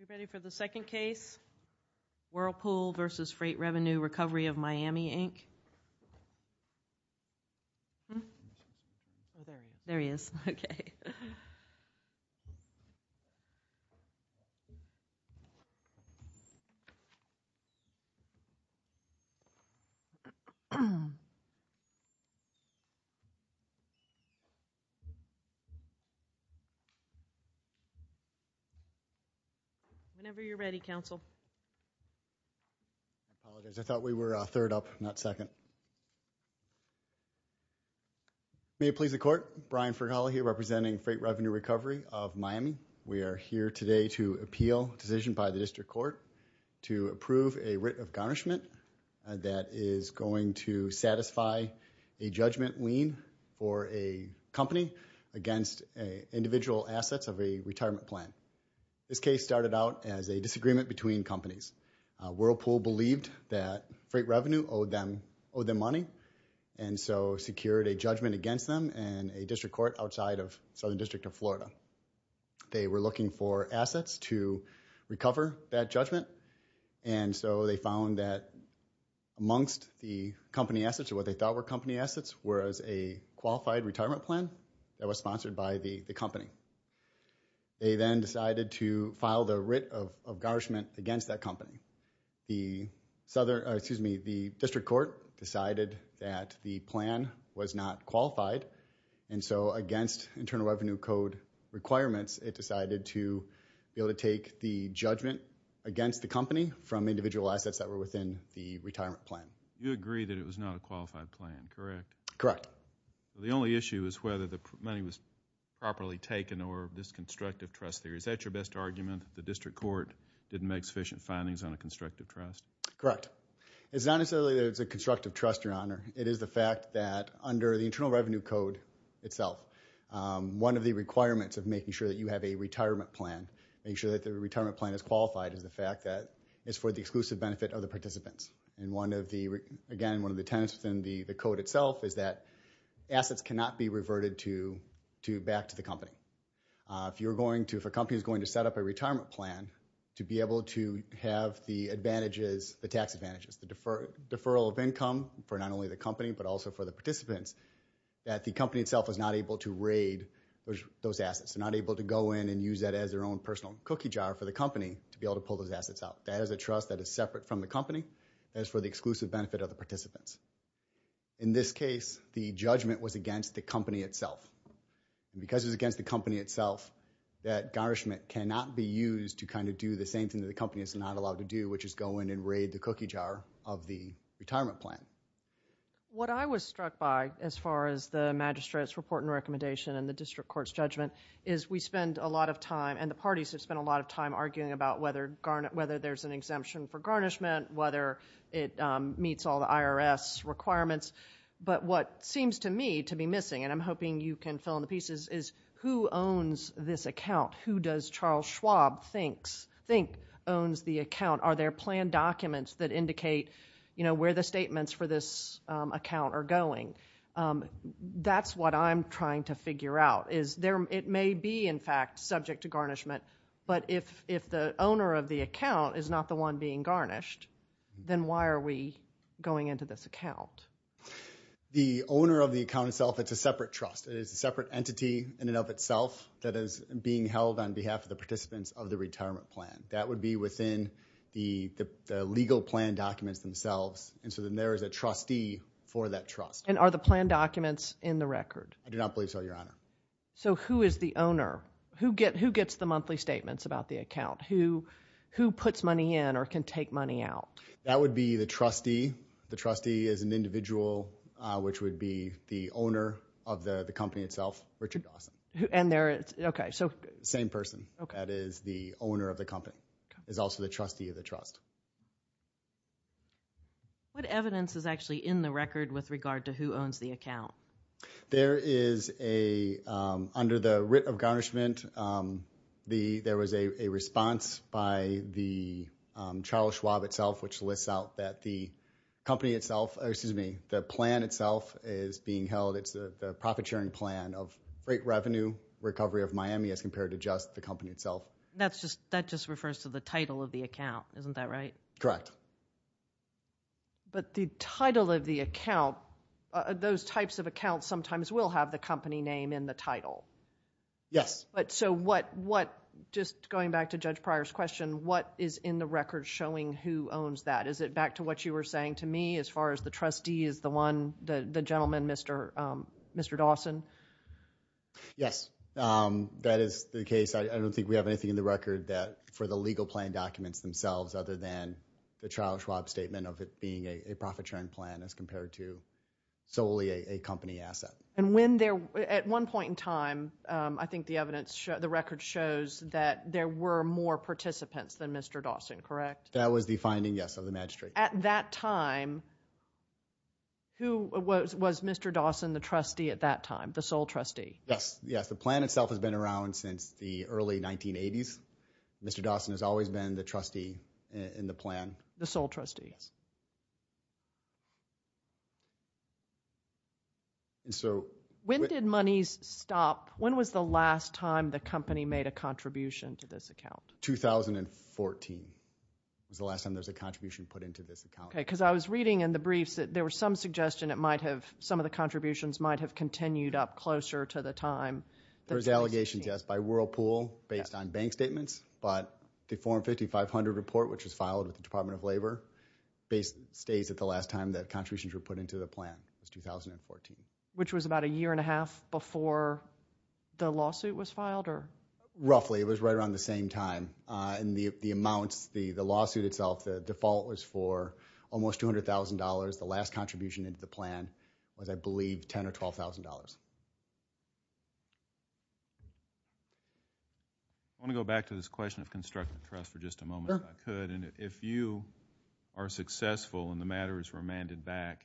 We're ready for the second case, Whirlpool v. Freight Revenue Recovery of Miami, Inc. Whenever you're ready, counsel. We are here today to appeal a decision by the District Court to approve a writ of garnishment that is going to satisfy a judgment lien for a company against individual assets of a retirement plan. This case started out as a disagreement between companies. Whirlpool believed that Freight Revenue owed them money and so secured a judgment against them in a District Court outside of Southern District of Florida. They were looking for assets to recover that judgment and so they found that amongst the company assets or what they thought were company assets was a qualified retirement plan that was sponsored by the company. They then decided to file the writ of garnishment against that company. The District Court decided that the plan was not qualified and so against Internal Revenue Code requirements, it decided to be able to take the judgment against the company from individual assets that were within the retirement plan. You agree that it was not a qualified plan, correct? Correct. The only issue is whether the money was properly taken or this constructive trust theory. Is that your best argument, that the District Court didn't make sufficient findings on a constructive trust? Correct. It's not necessarily that it's a constructive trust, Your Honor. It is the fact that under the Internal Revenue Code itself, one of the requirements of making sure that you have a retirement plan, making sure that the retirement plan is qualified, is the fact that it's for the exclusive benefit of the participants. Again, one of the tenets within the code itself is that assets cannot be reverted back to the company. If a company is going to set up a retirement plan to be able to have the advantages, the tax advantages, the deferral of income for not only the company but also for the participants, that the company itself is not able to raid those assets, is not able to go in and use that as their own personal cookie jar for the company to be able to pull those assets out. That is a trust that is separate from the company, that is for the exclusive benefit of the participants. In this case, the judgment was against the company itself. Because it was against the company itself, that garnishment cannot be used to kind of do the same thing that the company is not allowed to do, which is go in and raid the cookie jar of the retirement plan. What I was struck by, as far as the Magistrate's report and recommendation and the District Court's judgment, is we spend a lot of time, and the parties have spent a lot of time arguing about whether there's an exemption for garnishment, whether it meets all the IRS requirements. But what seems to me to be missing, and I'm hoping you can fill in the pieces, is who owns this account? Who does Charles Schwab think owns the account? Are there plan documents that indicate where the statements for this account are going? That's what I'm trying to figure out. It may be, in fact, subject to garnishment, but if the owner of the account is not the one being garnished, then why are we going into this account? The owner of the account itself, it's a separate trust. It is a separate entity in and of itself that is being held on behalf of the participants of the retirement plan. That would be within the legal plan documents themselves, and so then there is a trustee for that trust. And are the plan documents in the record? I do not believe so, Your Honor. So who is the owner? Who gets the monthly statements about the account? Who puts money in or can take money out? That would be the trustee. The trustee is an individual, which would be the owner of the company itself, Richard Dawson. And there is, okay, so... Same person. That is the owner of the company, is also the trustee of the trust. What evidence is actually in the record with regard to who owns the account? There is a, under the writ of garnishment, there was a response by the Charles Schwab itself which lists out that the company itself, excuse me, the plan itself is being held, it's the profit sharing plan of great revenue recovery of Miami as compared to just the company itself. That just refers to the title of the account, isn't that right? Correct. But the title of the account, those types of accounts sometimes will have the company name in the title. Yes. But so what, just going back to Judge Pryor's question, what is in the record showing who owns that? Is it back to what you were saying to me as far as the trustee is the one, the gentleman, Mr. Dawson? Yes. That is the case. I don't think we have anything in the record that, for the legal plan documents themselves other than the Charles Schwab statement of it being a profit sharing plan as compared to solely a company asset. And when there, at one point in time, I think the evidence, the record shows that there were more participants than Mr. Dawson, correct? That was the finding, yes, of the magistrate. At that time, who was Mr. Dawson the trustee at that time, the sole trustee? Yes. Yes. The plan itself has been around since the early 1980s. Mr. Dawson has always been the trustee in the plan. The sole trustee. Yes. And so... When did monies stop? When was the last time the company made a contribution to this account? 2014 was the last time there was a contribution put into this account. Okay. Because I was reading in the briefs that there was some suggestion it might have, some of the contributions might have continued up closer to the time that... There's allegations, yes, by Whirlpool based on bank statements, but the form 5500 report, which was filed with the Department of Labor, stays at the last time that contributions were put into the plan, was 2014. Which was about a year and a half before the lawsuit was filed, or... Roughly. It was right around the same time, and the amounts, the lawsuit itself, the default was for almost $200,000. The last contribution into the plan was, I believe, $10,000 or $12,000. I want to go back to this question of constructive trust for just a moment, if I could, and if you are successful and the matter is remanded back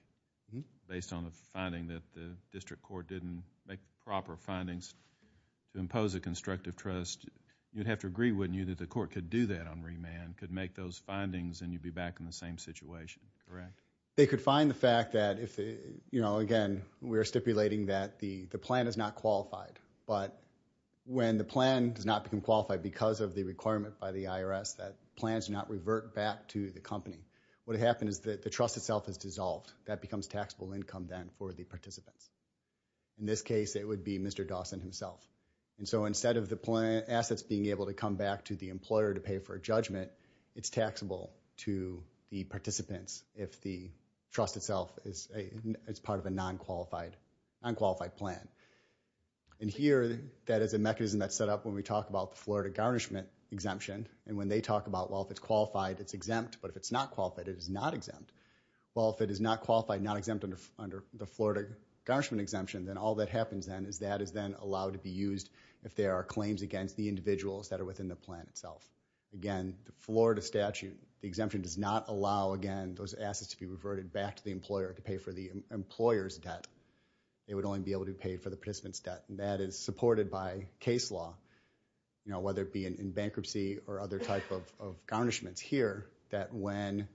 based on the finding that the district court didn't make proper findings to impose a constructive trust, you'd have to agree, wouldn't you, that the court could do that on remand, could make those findings, and you'd be back in the same situation, correct? They could find the fact that, again, we're stipulating that the plan is not qualified, but when the plan does not become qualified because of the requirement by the IRS that plans do not revert back to the company, what would happen is that the trust itself is dissolved. That becomes taxable income then for the participants. In this case, it would be Mr. Dawson himself, and so instead of the assets being able to come back to the employer to pay for a judgment, it's taxable to the participants if the trust itself is part of a non-qualified plan. And here, that is a mechanism that's set up when we talk about the Florida garnishment exemption, and when they talk about, well, if it's qualified, it's exempt, but if it's not qualified, it is not exempt. Well, if it is not qualified, not exempt under the Florida garnishment exemption, then all that happens then is that is then allowed to be used if there are claims against the individuals that are within the plan itself. Again, the Florida statute, the exemption does not allow, again, those assets to be reverted back to the employer to pay for the employer's debt. They would only be able to pay for the participant's debt, and that is supported by case law, whether it be in bankruptcy or other type of garnishments here, that when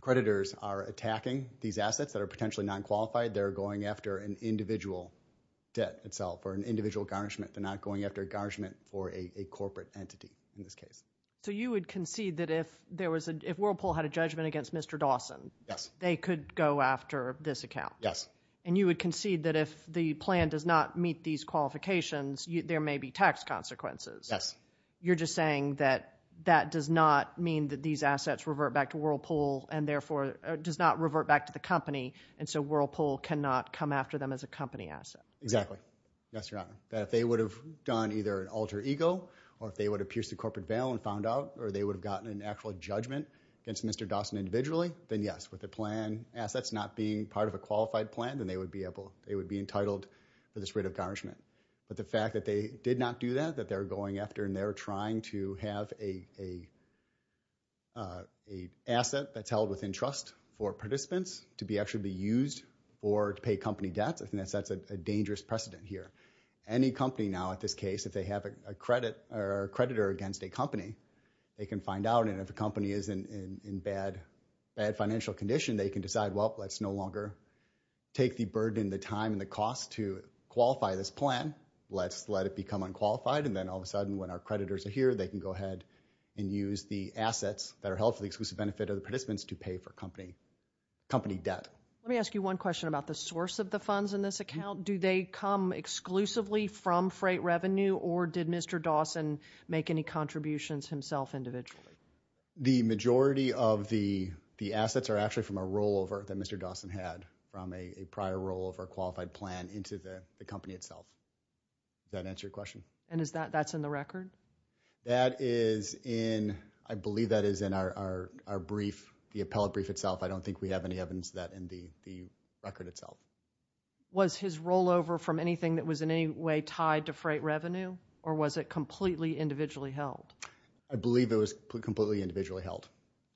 creditors are attacking these assets that are potentially non-qualified, they're going after an individual debt itself or an individual garnishment. They're not going after a garnishment for a corporate entity in this case. So you would concede that if Whirlpool had a judgment against Mr. Dawson, they could go after this account? Yes. And you would concede that if the plan does not meet these qualifications, there may be tax consequences? Yes. You're just saying that that does not mean that these assets revert back to Whirlpool and therefore does not revert back to the company, and so Whirlpool cannot come after them as a company asset? Exactly. Yes, Your Honor. That if they would have done either an alter ego, or if they would have pierced the corporate veil and found out, or they would have gotten an actual judgment against Mr. Dawson individually, then yes. With the plan assets not being part of a qualified plan, then they would be entitled to this writ of garnishment. But the fact that they did not do that, that they're going after and they're trying to have an asset that's held within trust for participants to actually be used or to pay company debts, I think that sets a dangerous precedent here. Any company now at this case, if they have a creditor against a company, they can find out, and if the company is in bad financial condition, they can decide, well, let's no longer take the burden, the time, and the cost to qualify this plan. Let's let it become unqualified, and then all of a sudden when our creditors are here, they can go ahead and use the assets that are held for the exclusive benefit of the participants to pay for company debt. Let me ask you one question about the source of the funds in this account. Do they come exclusively from freight revenue, or did Mr. Dawson make any contributions himself individually? The majority of the assets are actually from a rollover that Mr. Dawson had from a prior rollover qualified plan into the company itself. Does that answer your question? And is that, that's in the record? That is in, I believe that is in our brief, the appellate brief itself. I don't think we have any evidence of that in the record itself. Was his rollover from anything that was in any way tied to freight revenue, or was it completely individually held? I believe it was completely individually held.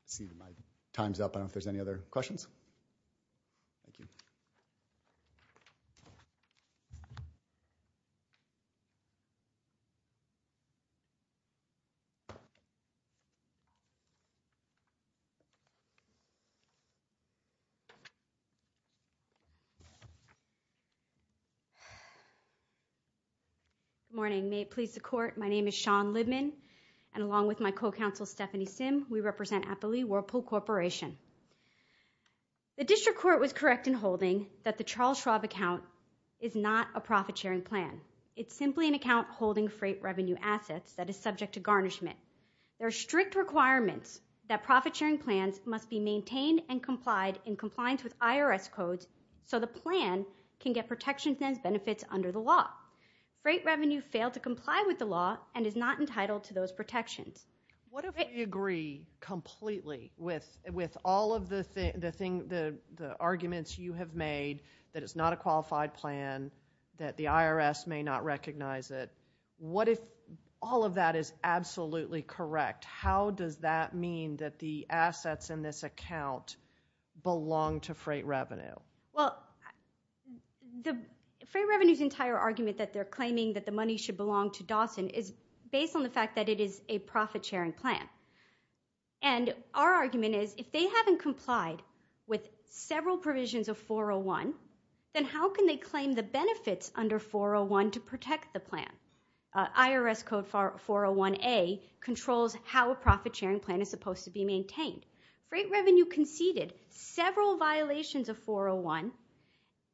Let's see if my time's up. I don't know if there's any other questions. Thank you. Good morning. May it please the Court. My name is Shawn Libman, and along with my co-counsel, Stephanie Simm, we represent Appley Whirlpool Corporation. The District Court was correct in holding that the Charles Schwab account is not a profit-sharing plan. It's simply an account holding freight revenue assets that is subject to garnishment. There are strict requirements that profit-sharing plans must be maintained and complied in compliance with IRS codes so the plan can get protections and benefits under the law. Freight revenue failed to comply with the law and is not entitled to those protections. What if we agree completely with all of the arguments you have made that it's not a qualified plan, that the IRS may not recognize it? What if all of that is absolutely correct? How does that mean that the assets in this account belong to freight revenue? Well, freight revenue's entire argument that they're claiming that the money should belong to Dawson is based on the fact that it is a profit-sharing plan. And our argument is, if they haven't complied with several provisions of 401, then how can they claim the benefits under 401 to protect the plan? IRS code 401A controls how a profit-sharing plan is supposed to be maintained. Freight revenue conceded several violations of 401,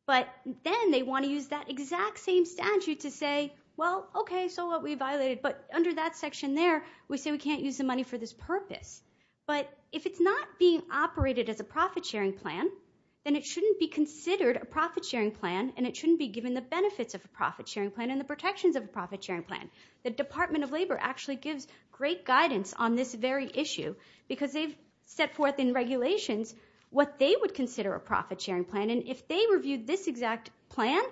but then they want to use that exact same statute to say, well, okay, so what, we violated, but under that section there, we say we can't use the money for this purpose. But if it's not being operated as a profit-sharing plan, then it shouldn't be considered a profit-sharing plan and it shouldn't be given the benefits of a profit-sharing plan and the protections of a profit-sharing plan. The Department of Labor actually gives great guidance on this very issue, because they've set forth in regulations what they would consider a profit-sharing plan, and if they reviewed this exact plan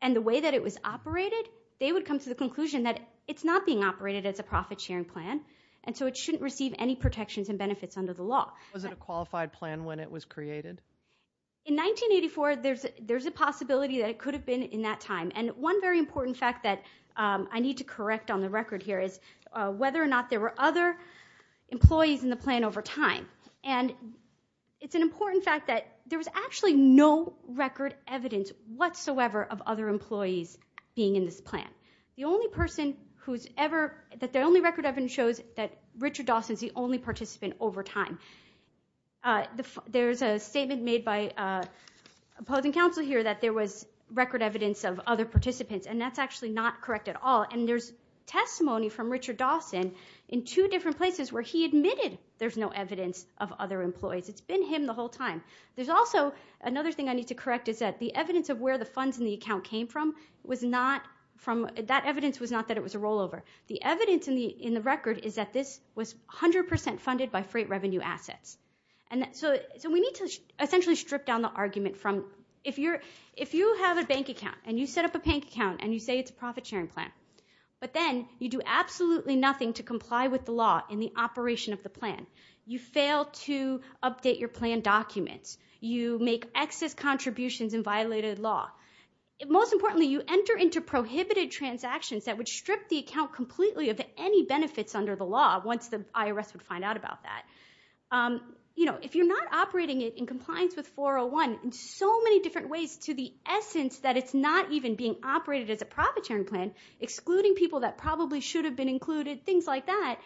and the way that it was operated, they would come to the conclusion that it's not being operated as a profit-sharing plan, and so it shouldn't receive any protections and benefits under the law. Was it a qualified plan when it was created? In 1984, there's a possibility that it could have been in that time, and one very important fact that I need to correct on the record here is whether or not there were other employees in the plan over time. And it's an important fact that there was actually no record evidence whatsoever of other employees being in this plan. The only person who's ever, that the only record evidence shows that Richard Dawson is the only participant over time. There's a statement made by opposing counsel here that there was record evidence of other participants, and that's actually not correct at all, and there's testimony from Richard Dawson in two different places where he admitted there's no evidence of other employees. It's been him the whole time. There's also another thing I need to correct is that the evidence of where the funds in the account came from was not from, that evidence was not that it was a rollover. The evidence in the record is that this was 100% funded by freight revenue assets. And so we need to essentially strip down the argument from, if you have a bank account and you set up a bank account and you say it's a profit sharing plan, but then you do absolutely nothing to comply with the law in the operation of the plan. You fail to update your plan documents. You make excess contributions and violated law. Most importantly, you enter into prohibited transactions that would strip the account completely of any benefits under the law once the IRS would find out about that. You know, if you're not operating it in compliance with 401 in so many different ways to the point of not even being operated as a profit sharing plan, excluding people that probably should have been included, things like that,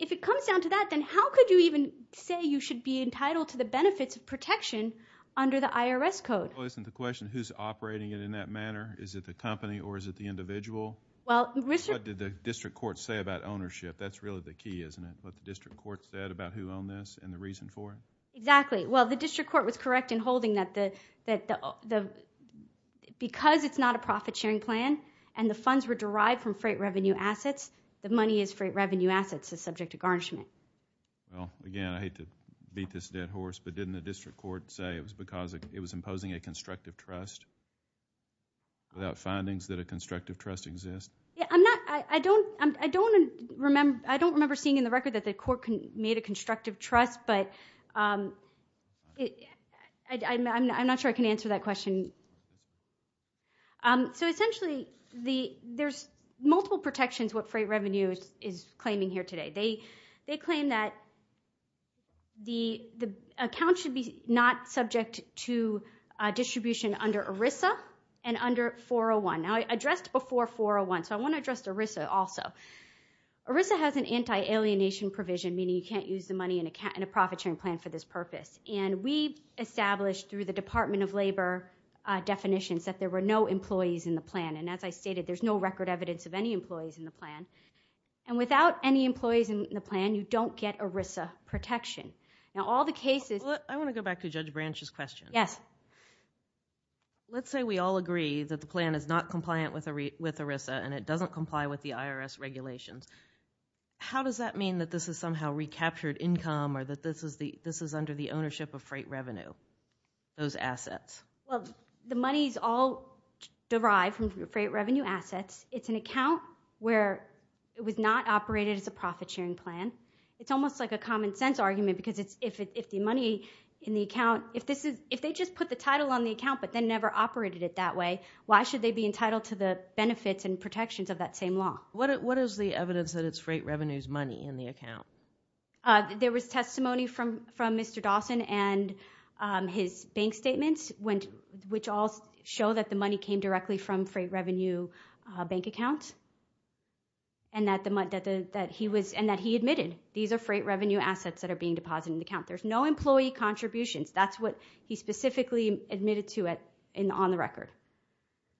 if it comes down to that, then how could you even say you should be entitled to the benefits of protection under the IRS code? Well, isn't the question who's operating it in that manner? Is it the company or is it the individual? What did the district court say about ownership? That's really the key, isn't it? What the district court said about who owned this and the reason for it? Exactly. Well, the district court was correct in holding that because it's not a profit sharing plan and the funds were derived from freight revenue assets, the money is freight revenue assets is subject to garnishment. Well, again, I hate to beat this dead horse, but didn't the district court say it was because it was imposing a constructive trust without findings that a constructive trust exists? Yeah, I'm not, I don't remember seeing in the record that the court made a constructive trust, but I'm not sure I can answer that question. So essentially, there's multiple protections what Freight Revenue is claiming here today. They claim that the account should be not subject to distribution under ERISA and under 401. Now, I addressed before 401, so I want to address ERISA also. ERISA has an anti-alienation provision, meaning you can't use the money in a profit sharing plan for this purpose. And we established through the Department of Labor definitions that there were no employees in the plan. And as I stated, there's no record evidence of any employees in the plan. And without any employees in the plan, you don't get ERISA protection. Now, all the cases... I want to go back to Judge Branch's question. Yes. Let's say we all agree that the plan is not compliant with ERISA and it doesn't comply with the IRS regulations. How does that mean that this is somehow recaptured income or that this is under the ownership of Freight Revenue, those assets? The money's all derived from Freight Revenue assets. It's an account where it was not operated as a profit sharing plan. It's almost like a common sense argument because if the money in the account... If they just put the title on the account but then never operated it that way, why should they be entitled to the benefits and protections of that same law? What is the evidence that it's Freight Revenue's money in the account? There was testimony from Mr. Dawson and his bank statements which all show that the money came directly from Freight Revenue bank accounts and that he admitted these are Freight Revenue assets that are being deposited in the account. There's no employee contributions. That's what he specifically admitted to on the record.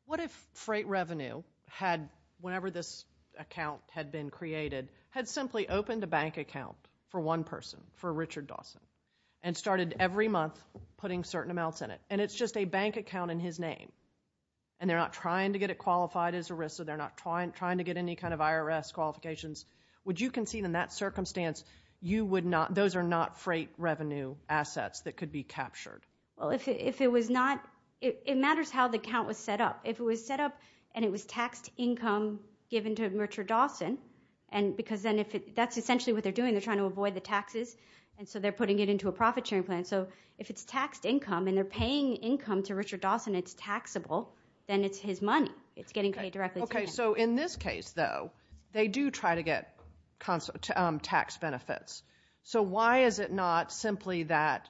What if Freight Revenue had, whenever this account had been created, had simply opened a bank account for one person, for Richard Dawson, and started every month putting certain amounts in it and it's just a bank account in his name and they're not trying to get it qualified as ERISA, they're not trying to get any kind of IRS qualifications. Would you concede in that circumstance, those are not Freight Revenue assets that could be captured? Well, if it was not, it matters how the account was set up. If it was set up and it was taxed income given to Richard Dawson, because that's essentially what they're doing, they're trying to avoid the taxes, and so they're putting it into a profit sharing plan. So if it's taxed income and they're paying income to Richard Dawson, it's taxable, then it's his money. It's getting paid directly to him. Okay, so in this case though, they do try to get tax benefits. So why is it not simply that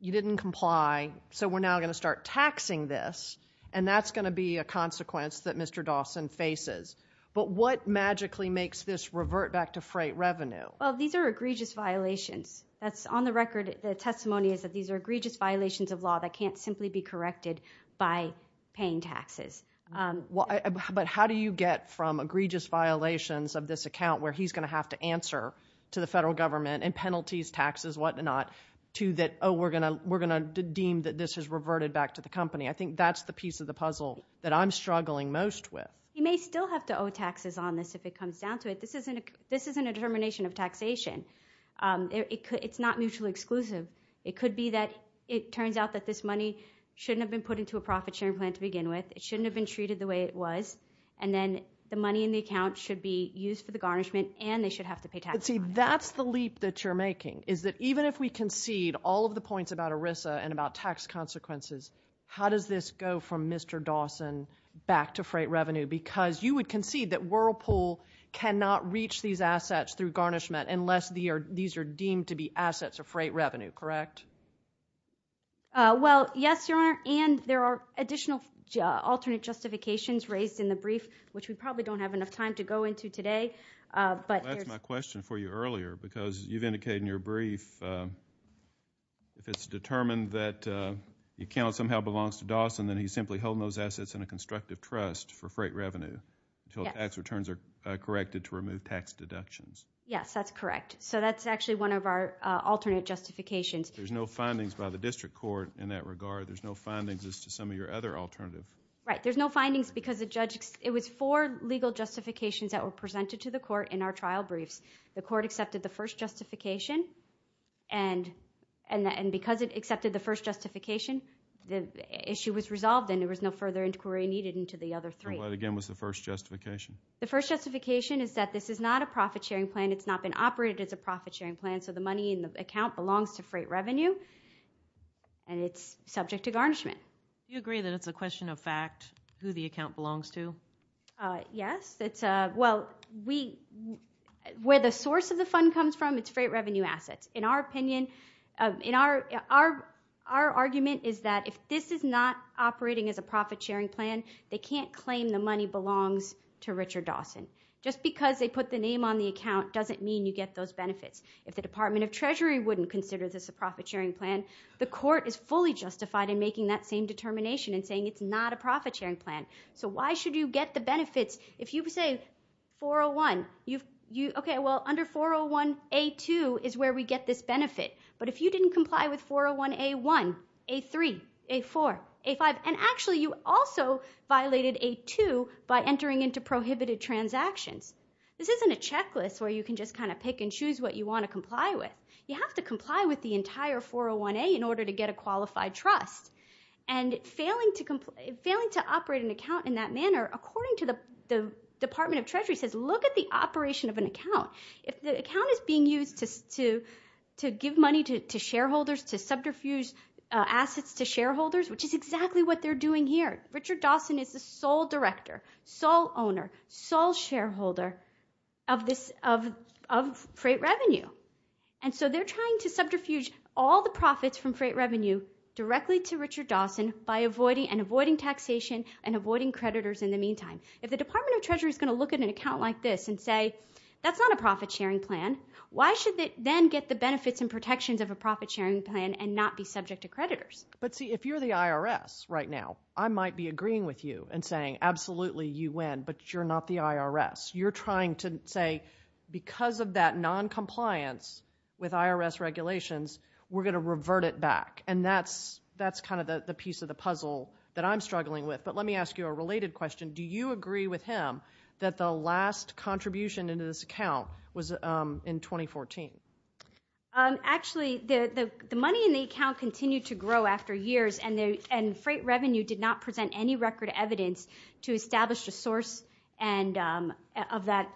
you didn't comply, so we're now going to start taxing this, and that's going to be a consequence that Mr. Dawson faces. But what magically makes this revert back to Freight Revenue? Well, these are egregious violations. That's on the record, the testimony is that these are egregious violations of law that can't simply be corrected by paying taxes. But how do you get from egregious violations of this account where he's going to have to and penalties, taxes, whatnot, to that, oh, we're going to deem that this has reverted back to the company. I think that's the piece of the puzzle that I'm struggling most with. You may still have to owe taxes on this if it comes down to it. This isn't a determination of taxation. It's not mutually exclusive. It could be that it turns out that this money shouldn't have been put into a profit sharing plan to begin with. It shouldn't have been treated the way it was. And then the money in the account should be used for the garnishment, and they should have to pay taxes on it. See, that's the leap that you're making, is that even if we concede all of the points about ERISA and about tax consequences, how does this go from Mr. Dawson back to freight revenue? Because you would concede that Whirlpool cannot reach these assets through garnishment unless these are deemed to be assets of freight revenue, correct? Well, yes, Your Honor, and there are additional alternate justifications raised in the brief, which we probably don't have enough time to go into today. That's my question for you earlier, because you've indicated in your brief, if it's determined that the account somehow belongs to Dawson, then he's simply holding those assets in a constructive trust for freight revenue until the tax returns are corrected to remove tax deductions. Yes, that's correct. So that's actually one of our alternate justifications. There's no findings by the district court in that regard. There's no findings as to some of your other alternative. Right. There's no findings because it was four legal justifications that were presented to the court in our trial briefs. The court accepted the first justification, and because it accepted the first justification, the issue was resolved and there was no further inquiry needed into the other three. And what, again, was the first justification? The first justification is that this is not a profit-sharing plan. It's not been operated as a profit-sharing plan, so the money in the account belongs to freight revenue, and it's subject to garnishment. Do you agree that it's a question of fact who the account belongs to? Yes. Well, where the source of the fund comes from, it's freight revenue assets. In our opinion, our argument is that if this is not operating as a profit-sharing plan, they can't claim the money belongs to Richard Dawson. Just because they put the name on the account doesn't mean you get those benefits. If the Department of Treasury wouldn't consider this a profit-sharing plan, the court is fully justified in making that same determination and saying it's not a profit-sharing plan. So why should you get the benefits? If you say 401, okay, well, under 401A2 is where we get this benefit. But if you didn't comply with 401A1, A3, A4, A5, and actually you also violated A2 by entering into prohibited transactions, this isn't a checklist where you can just kind of pick and choose what you want to comply with. You have to comply with the entire 401A in order to get a qualified trust. And failing to operate an account in that manner, according to the Department of Treasury, says look at the operation of an account. If the account is being used to give money to shareholders, to subterfuge assets to shareholders, which is exactly what they're doing here. Richard Dawson is the sole director, sole owner, sole shareholder of freight revenue. And so they're trying to subterfuge all the profits from freight revenue directly to Richard Dawson by avoiding and avoiding taxation and avoiding creditors in the meantime. If the Department of Treasury is going to look at an account like this and say that's not a profit-sharing plan, why should they then get the benefits and protections of a profit-sharing plan and not be subject to creditors? But see, if you're the IRS right now, I might be agreeing with you and saying absolutely you win, but you're not the IRS. You're trying to say because of that noncompliance with IRS regulations, we're going to revert it back. And that's kind of the piece of the puzzle that I'm struggling with. But let me ask you a related question. Do you agree with him that the last contribution into this account was in 2014? Actually, the money in the account continued to grow after years, and freight revenue did not present any record evidence to establish a source of that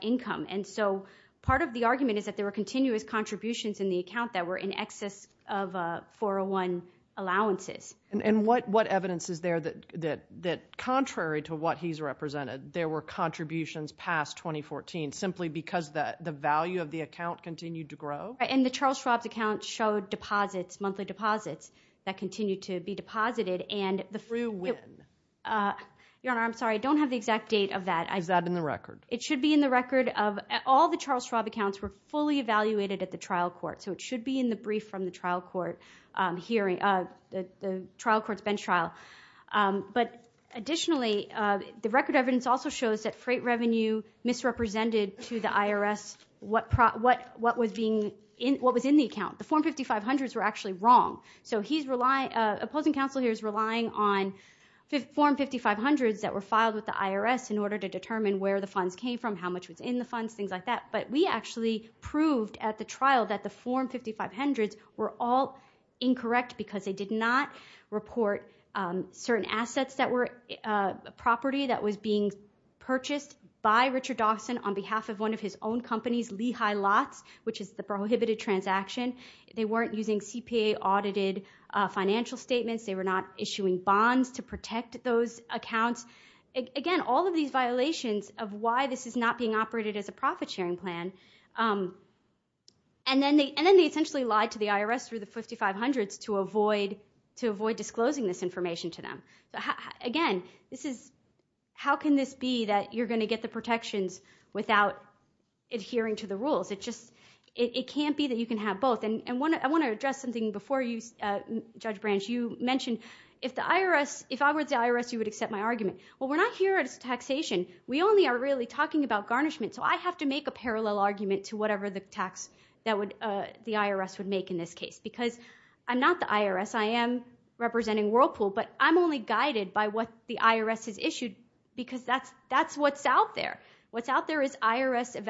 income. And so part of the argument is that there were continuous contributions in the account that were in excess of 401 allowances. And what evidence is there that contrary to what he's represented, there were contributions past 2014 simply because the value of the account continued to grow? And the Charles Schwab's account showed deposits, monthly deposits, that continued to be deposited. Through when? Your Honor, I'm sorry, I don't have the exact date of that. Is that in the record? It should be in the record of all the Charles Schwab accounts were fully evaluated at the trial court. So it should be in the brief from the trial court hearing, the trial court's bench trial. But additionally, the record evidence also shows that freight revenue misrepresented to the IRS what was in the account. The form 5500s were actually wrong. So he's relying, opposing counsel here is relying on form 5500s that were filed with the IRS in order to determine where the funds came from, how much was in the funds, things like that. But we actually proved at the trial that the form 5500s were all incorrect because they did not report certain assets that were property that was being purchased by Richard Dawson on behalf of one of his own companies, Lehigh Lots, which is the prohibited transaction. They weren't using CPA audited financial statements, they were not issuing bonds to protect those accounts. Again, all of these violations of why this is not being operated as a profit sharing plan. And then they essentially lied to the IRS through the 5500s to avoid disclosing this information to them. Again, this is, how can this be that you're going to get the protections without adhering to the rules? It just, it can't be that you can have both. And I want to address something before you, Judge Branch, you mentioned, if I were the IRS, you would accept my argument. Well, we're not here as taxation. We only are really talking about garnishment, so I have to make a parallel argument to whatever the tax that the IRS would make in this case. Because I'm not the IRS, I am representing Whirlpool, but I'm only guided by what the IRS has issued because that's what's out there. What's out there is IRS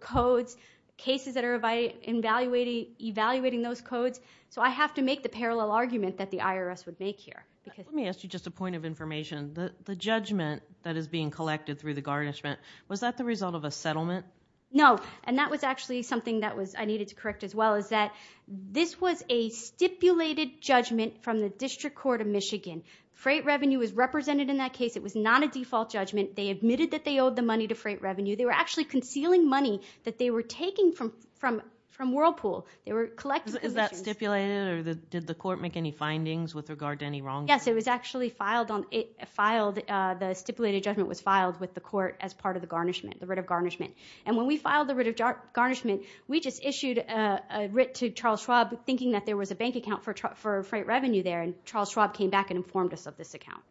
codes, cases that are evaluating those codes, so I have to make the parallel argument that the IRS would make here. Let me ask you just a point of information. The judgment that is being collected through the garnishment, was that the result of a settlement? No. And that was actually something that I needed to correct as well, is that this was a stipulated judgment from the District Court of Michigan. Freight revenue is represented in that case, it was not a default judgment, they admitted that they owed the money to freight revenue, they were actually concealing money that they were taking from Whirlpool. Is that stipulated, or did the court make any findings with regard to any wrongdoing? Yes, it was actually filed, the stipulated judgment was filed with the court as part of the garnishment, the writ of garnishment. And when we filed the writ of garnishment, we just issued a writ to Charles Schwab thinking that there was a bank account for freight revenue there, and Charles Schwab came back and informed us of this account.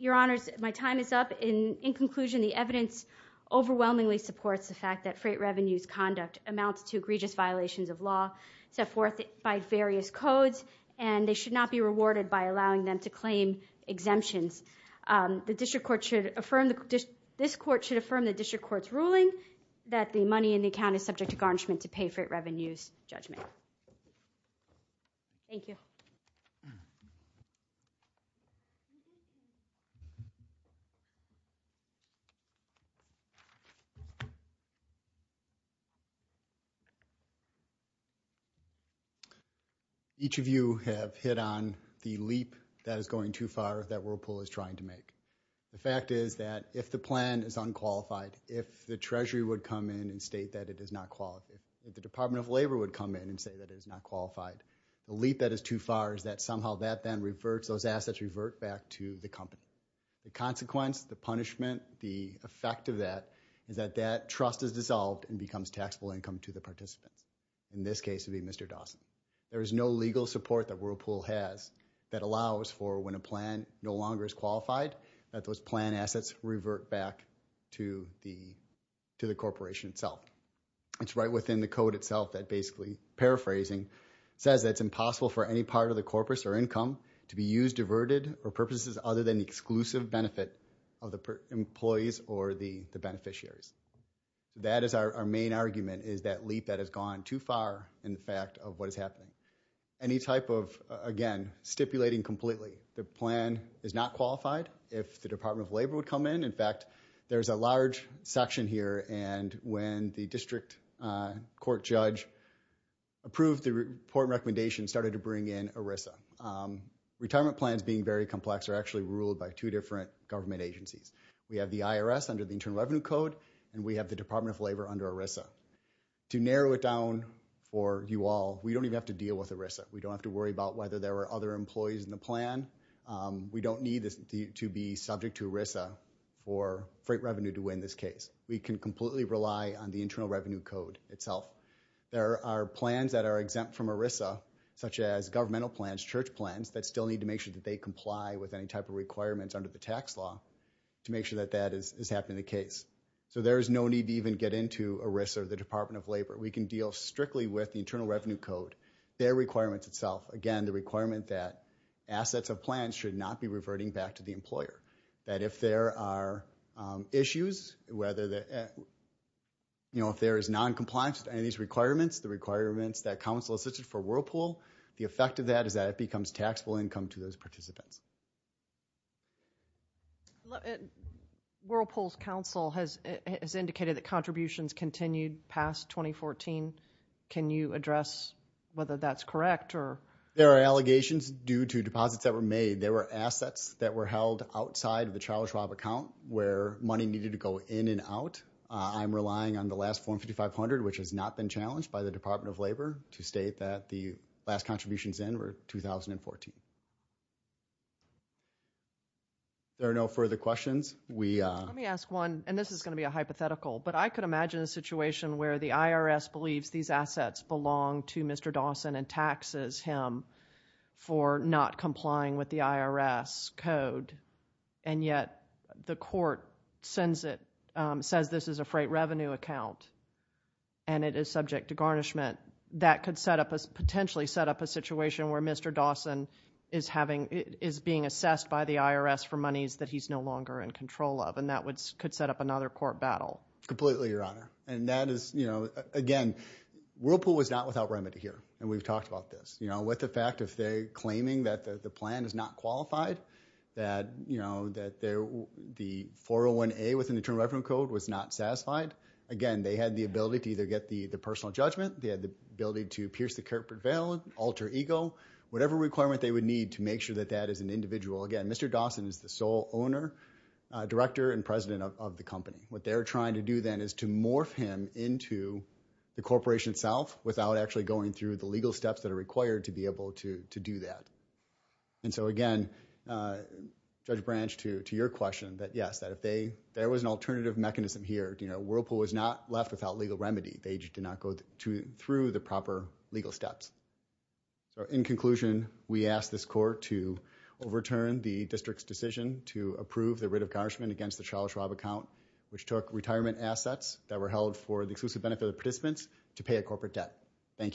Your Honors, my time is up. In conclusion, the evidence overwhelmingly supports the fact that freight revenue's conduct amounts to egregious violations of law, set forth by various codes, and they should not be rewarded by allowing them to claim exemptions. The District Court should affirm, this court should affirm the District Court's ruling that the money in the account is subject to garnishment to pay freight revenue's judgment. Thank you. Thank you. Each of you have hit on the leap that is going too far that Whirlpool is trying to make. The fact is that if the plan is unqualified, if the Treasury would come in and state that it is not qualified, if the Department of Labor would come in and say that it is not The consequence, the punishment, the effect of that is that that trust is dissolved and becomes taxable income to the participants, in this case, it would be Mr. Dawson. There is no legal support that Whirlpool has that allows for when a plan no longer is qualified that those plan assets revert back to the corporation itself. It's right within the code itself that basically, paraphrasing, says that it's impossible for any part of the corpus or income to be used, diverted, or purposes other than the exclusive benefit of the employees or the beneficiaries. That is our main argument, is that leap that has gone too far in the fact of what is happening. Any type of, again, stipulating completely, the plan is not qualified, if the Department of Labor would come in. In fact, there is a large section here and when the District Court judge approved the important recommendation, started to bring in ERISA. Retirement plans being very complex are actually ruled by two different government agencies. We have the IRS under the Internal Revenue Code and we have the Department of Labor under ERISA. To narrow it down for you all, we don't even have to deal with ERISA. We don't have to worry about whether there are other employees in the plan. We don't need to be subject to ERISA for freight revenue to win this case. We can completely rely on the Internal Revenue Code itself. There are plans that are exempt from ERISA, such as governmental plans, church plans, that still need to make sure that they comply with any type of requirements under the tax law to make sure that that is happening in the case. So there is no need to even get into ERISA or the Department of Labor. We can deal strictly with the Internal Revenue Code. Their requirements itself, again, the requirement that assets of plans should not be reverting back to the employer. If there are issues, if there is non-compliance with any of these requirements, the requirements that counsel has listed for Whirlpool, the effect of that is that it becomes taxable income to those participants. Whirlpool's counsel has indicated that contributions continued past 2014. Can you address whether that's correct? There are allegations due to deposits that were made. There were assets that were held outside of the Charles Schwab account where money needed to go in and out. I'm relying on the last form 5500, which has not been challenged by the Department of Labor, to state that the last contributions in were 2014. There are no further questions. Let me ask one, and this is going to be a hypothetical, but I could imagine a situation where the IRS believes these assets belong to Mr. Dawson and taxes him for not complying with the IRS code, and yet the court sends it, says this is a freight revenue account and it is subject to garnishment. That could potentially set up a situation where Mr. Dawson is being assessed by the IRS for monies that he's no longer in control of, and that could set up another court battle. Completely, Your Honor. Again, Whirlpool was not without remedy here, and we've talked about this. With the fact that if they're claiming that the plan is not qualified, that the 401A within the Internal Revenue Code was not satisfied, again, they had the ability to either get the personal judgment, they had the ability to pierce the culprit veil, alter ego, whatever requirement they would need to make sure that that is an individual. Again, Mr. Dawson is the sole owner, director, and president of the company. What they're trying to do then is to morph him into the corporation itself without actually going through the legal steps that are required to be able to do that. Again, Judge Branch, to your question, yes, there was an alternative mechanism here. Whirlpool was not left without legal remedy. They did not go through the proper legal steps. In conclusion, we ask this court to overturn the district's decision to approve the writ of garnishment against the Charles Schwab account, which took retirement assets that were held for the exclusive benefit of the participants to pay a corporate debt. Thank you.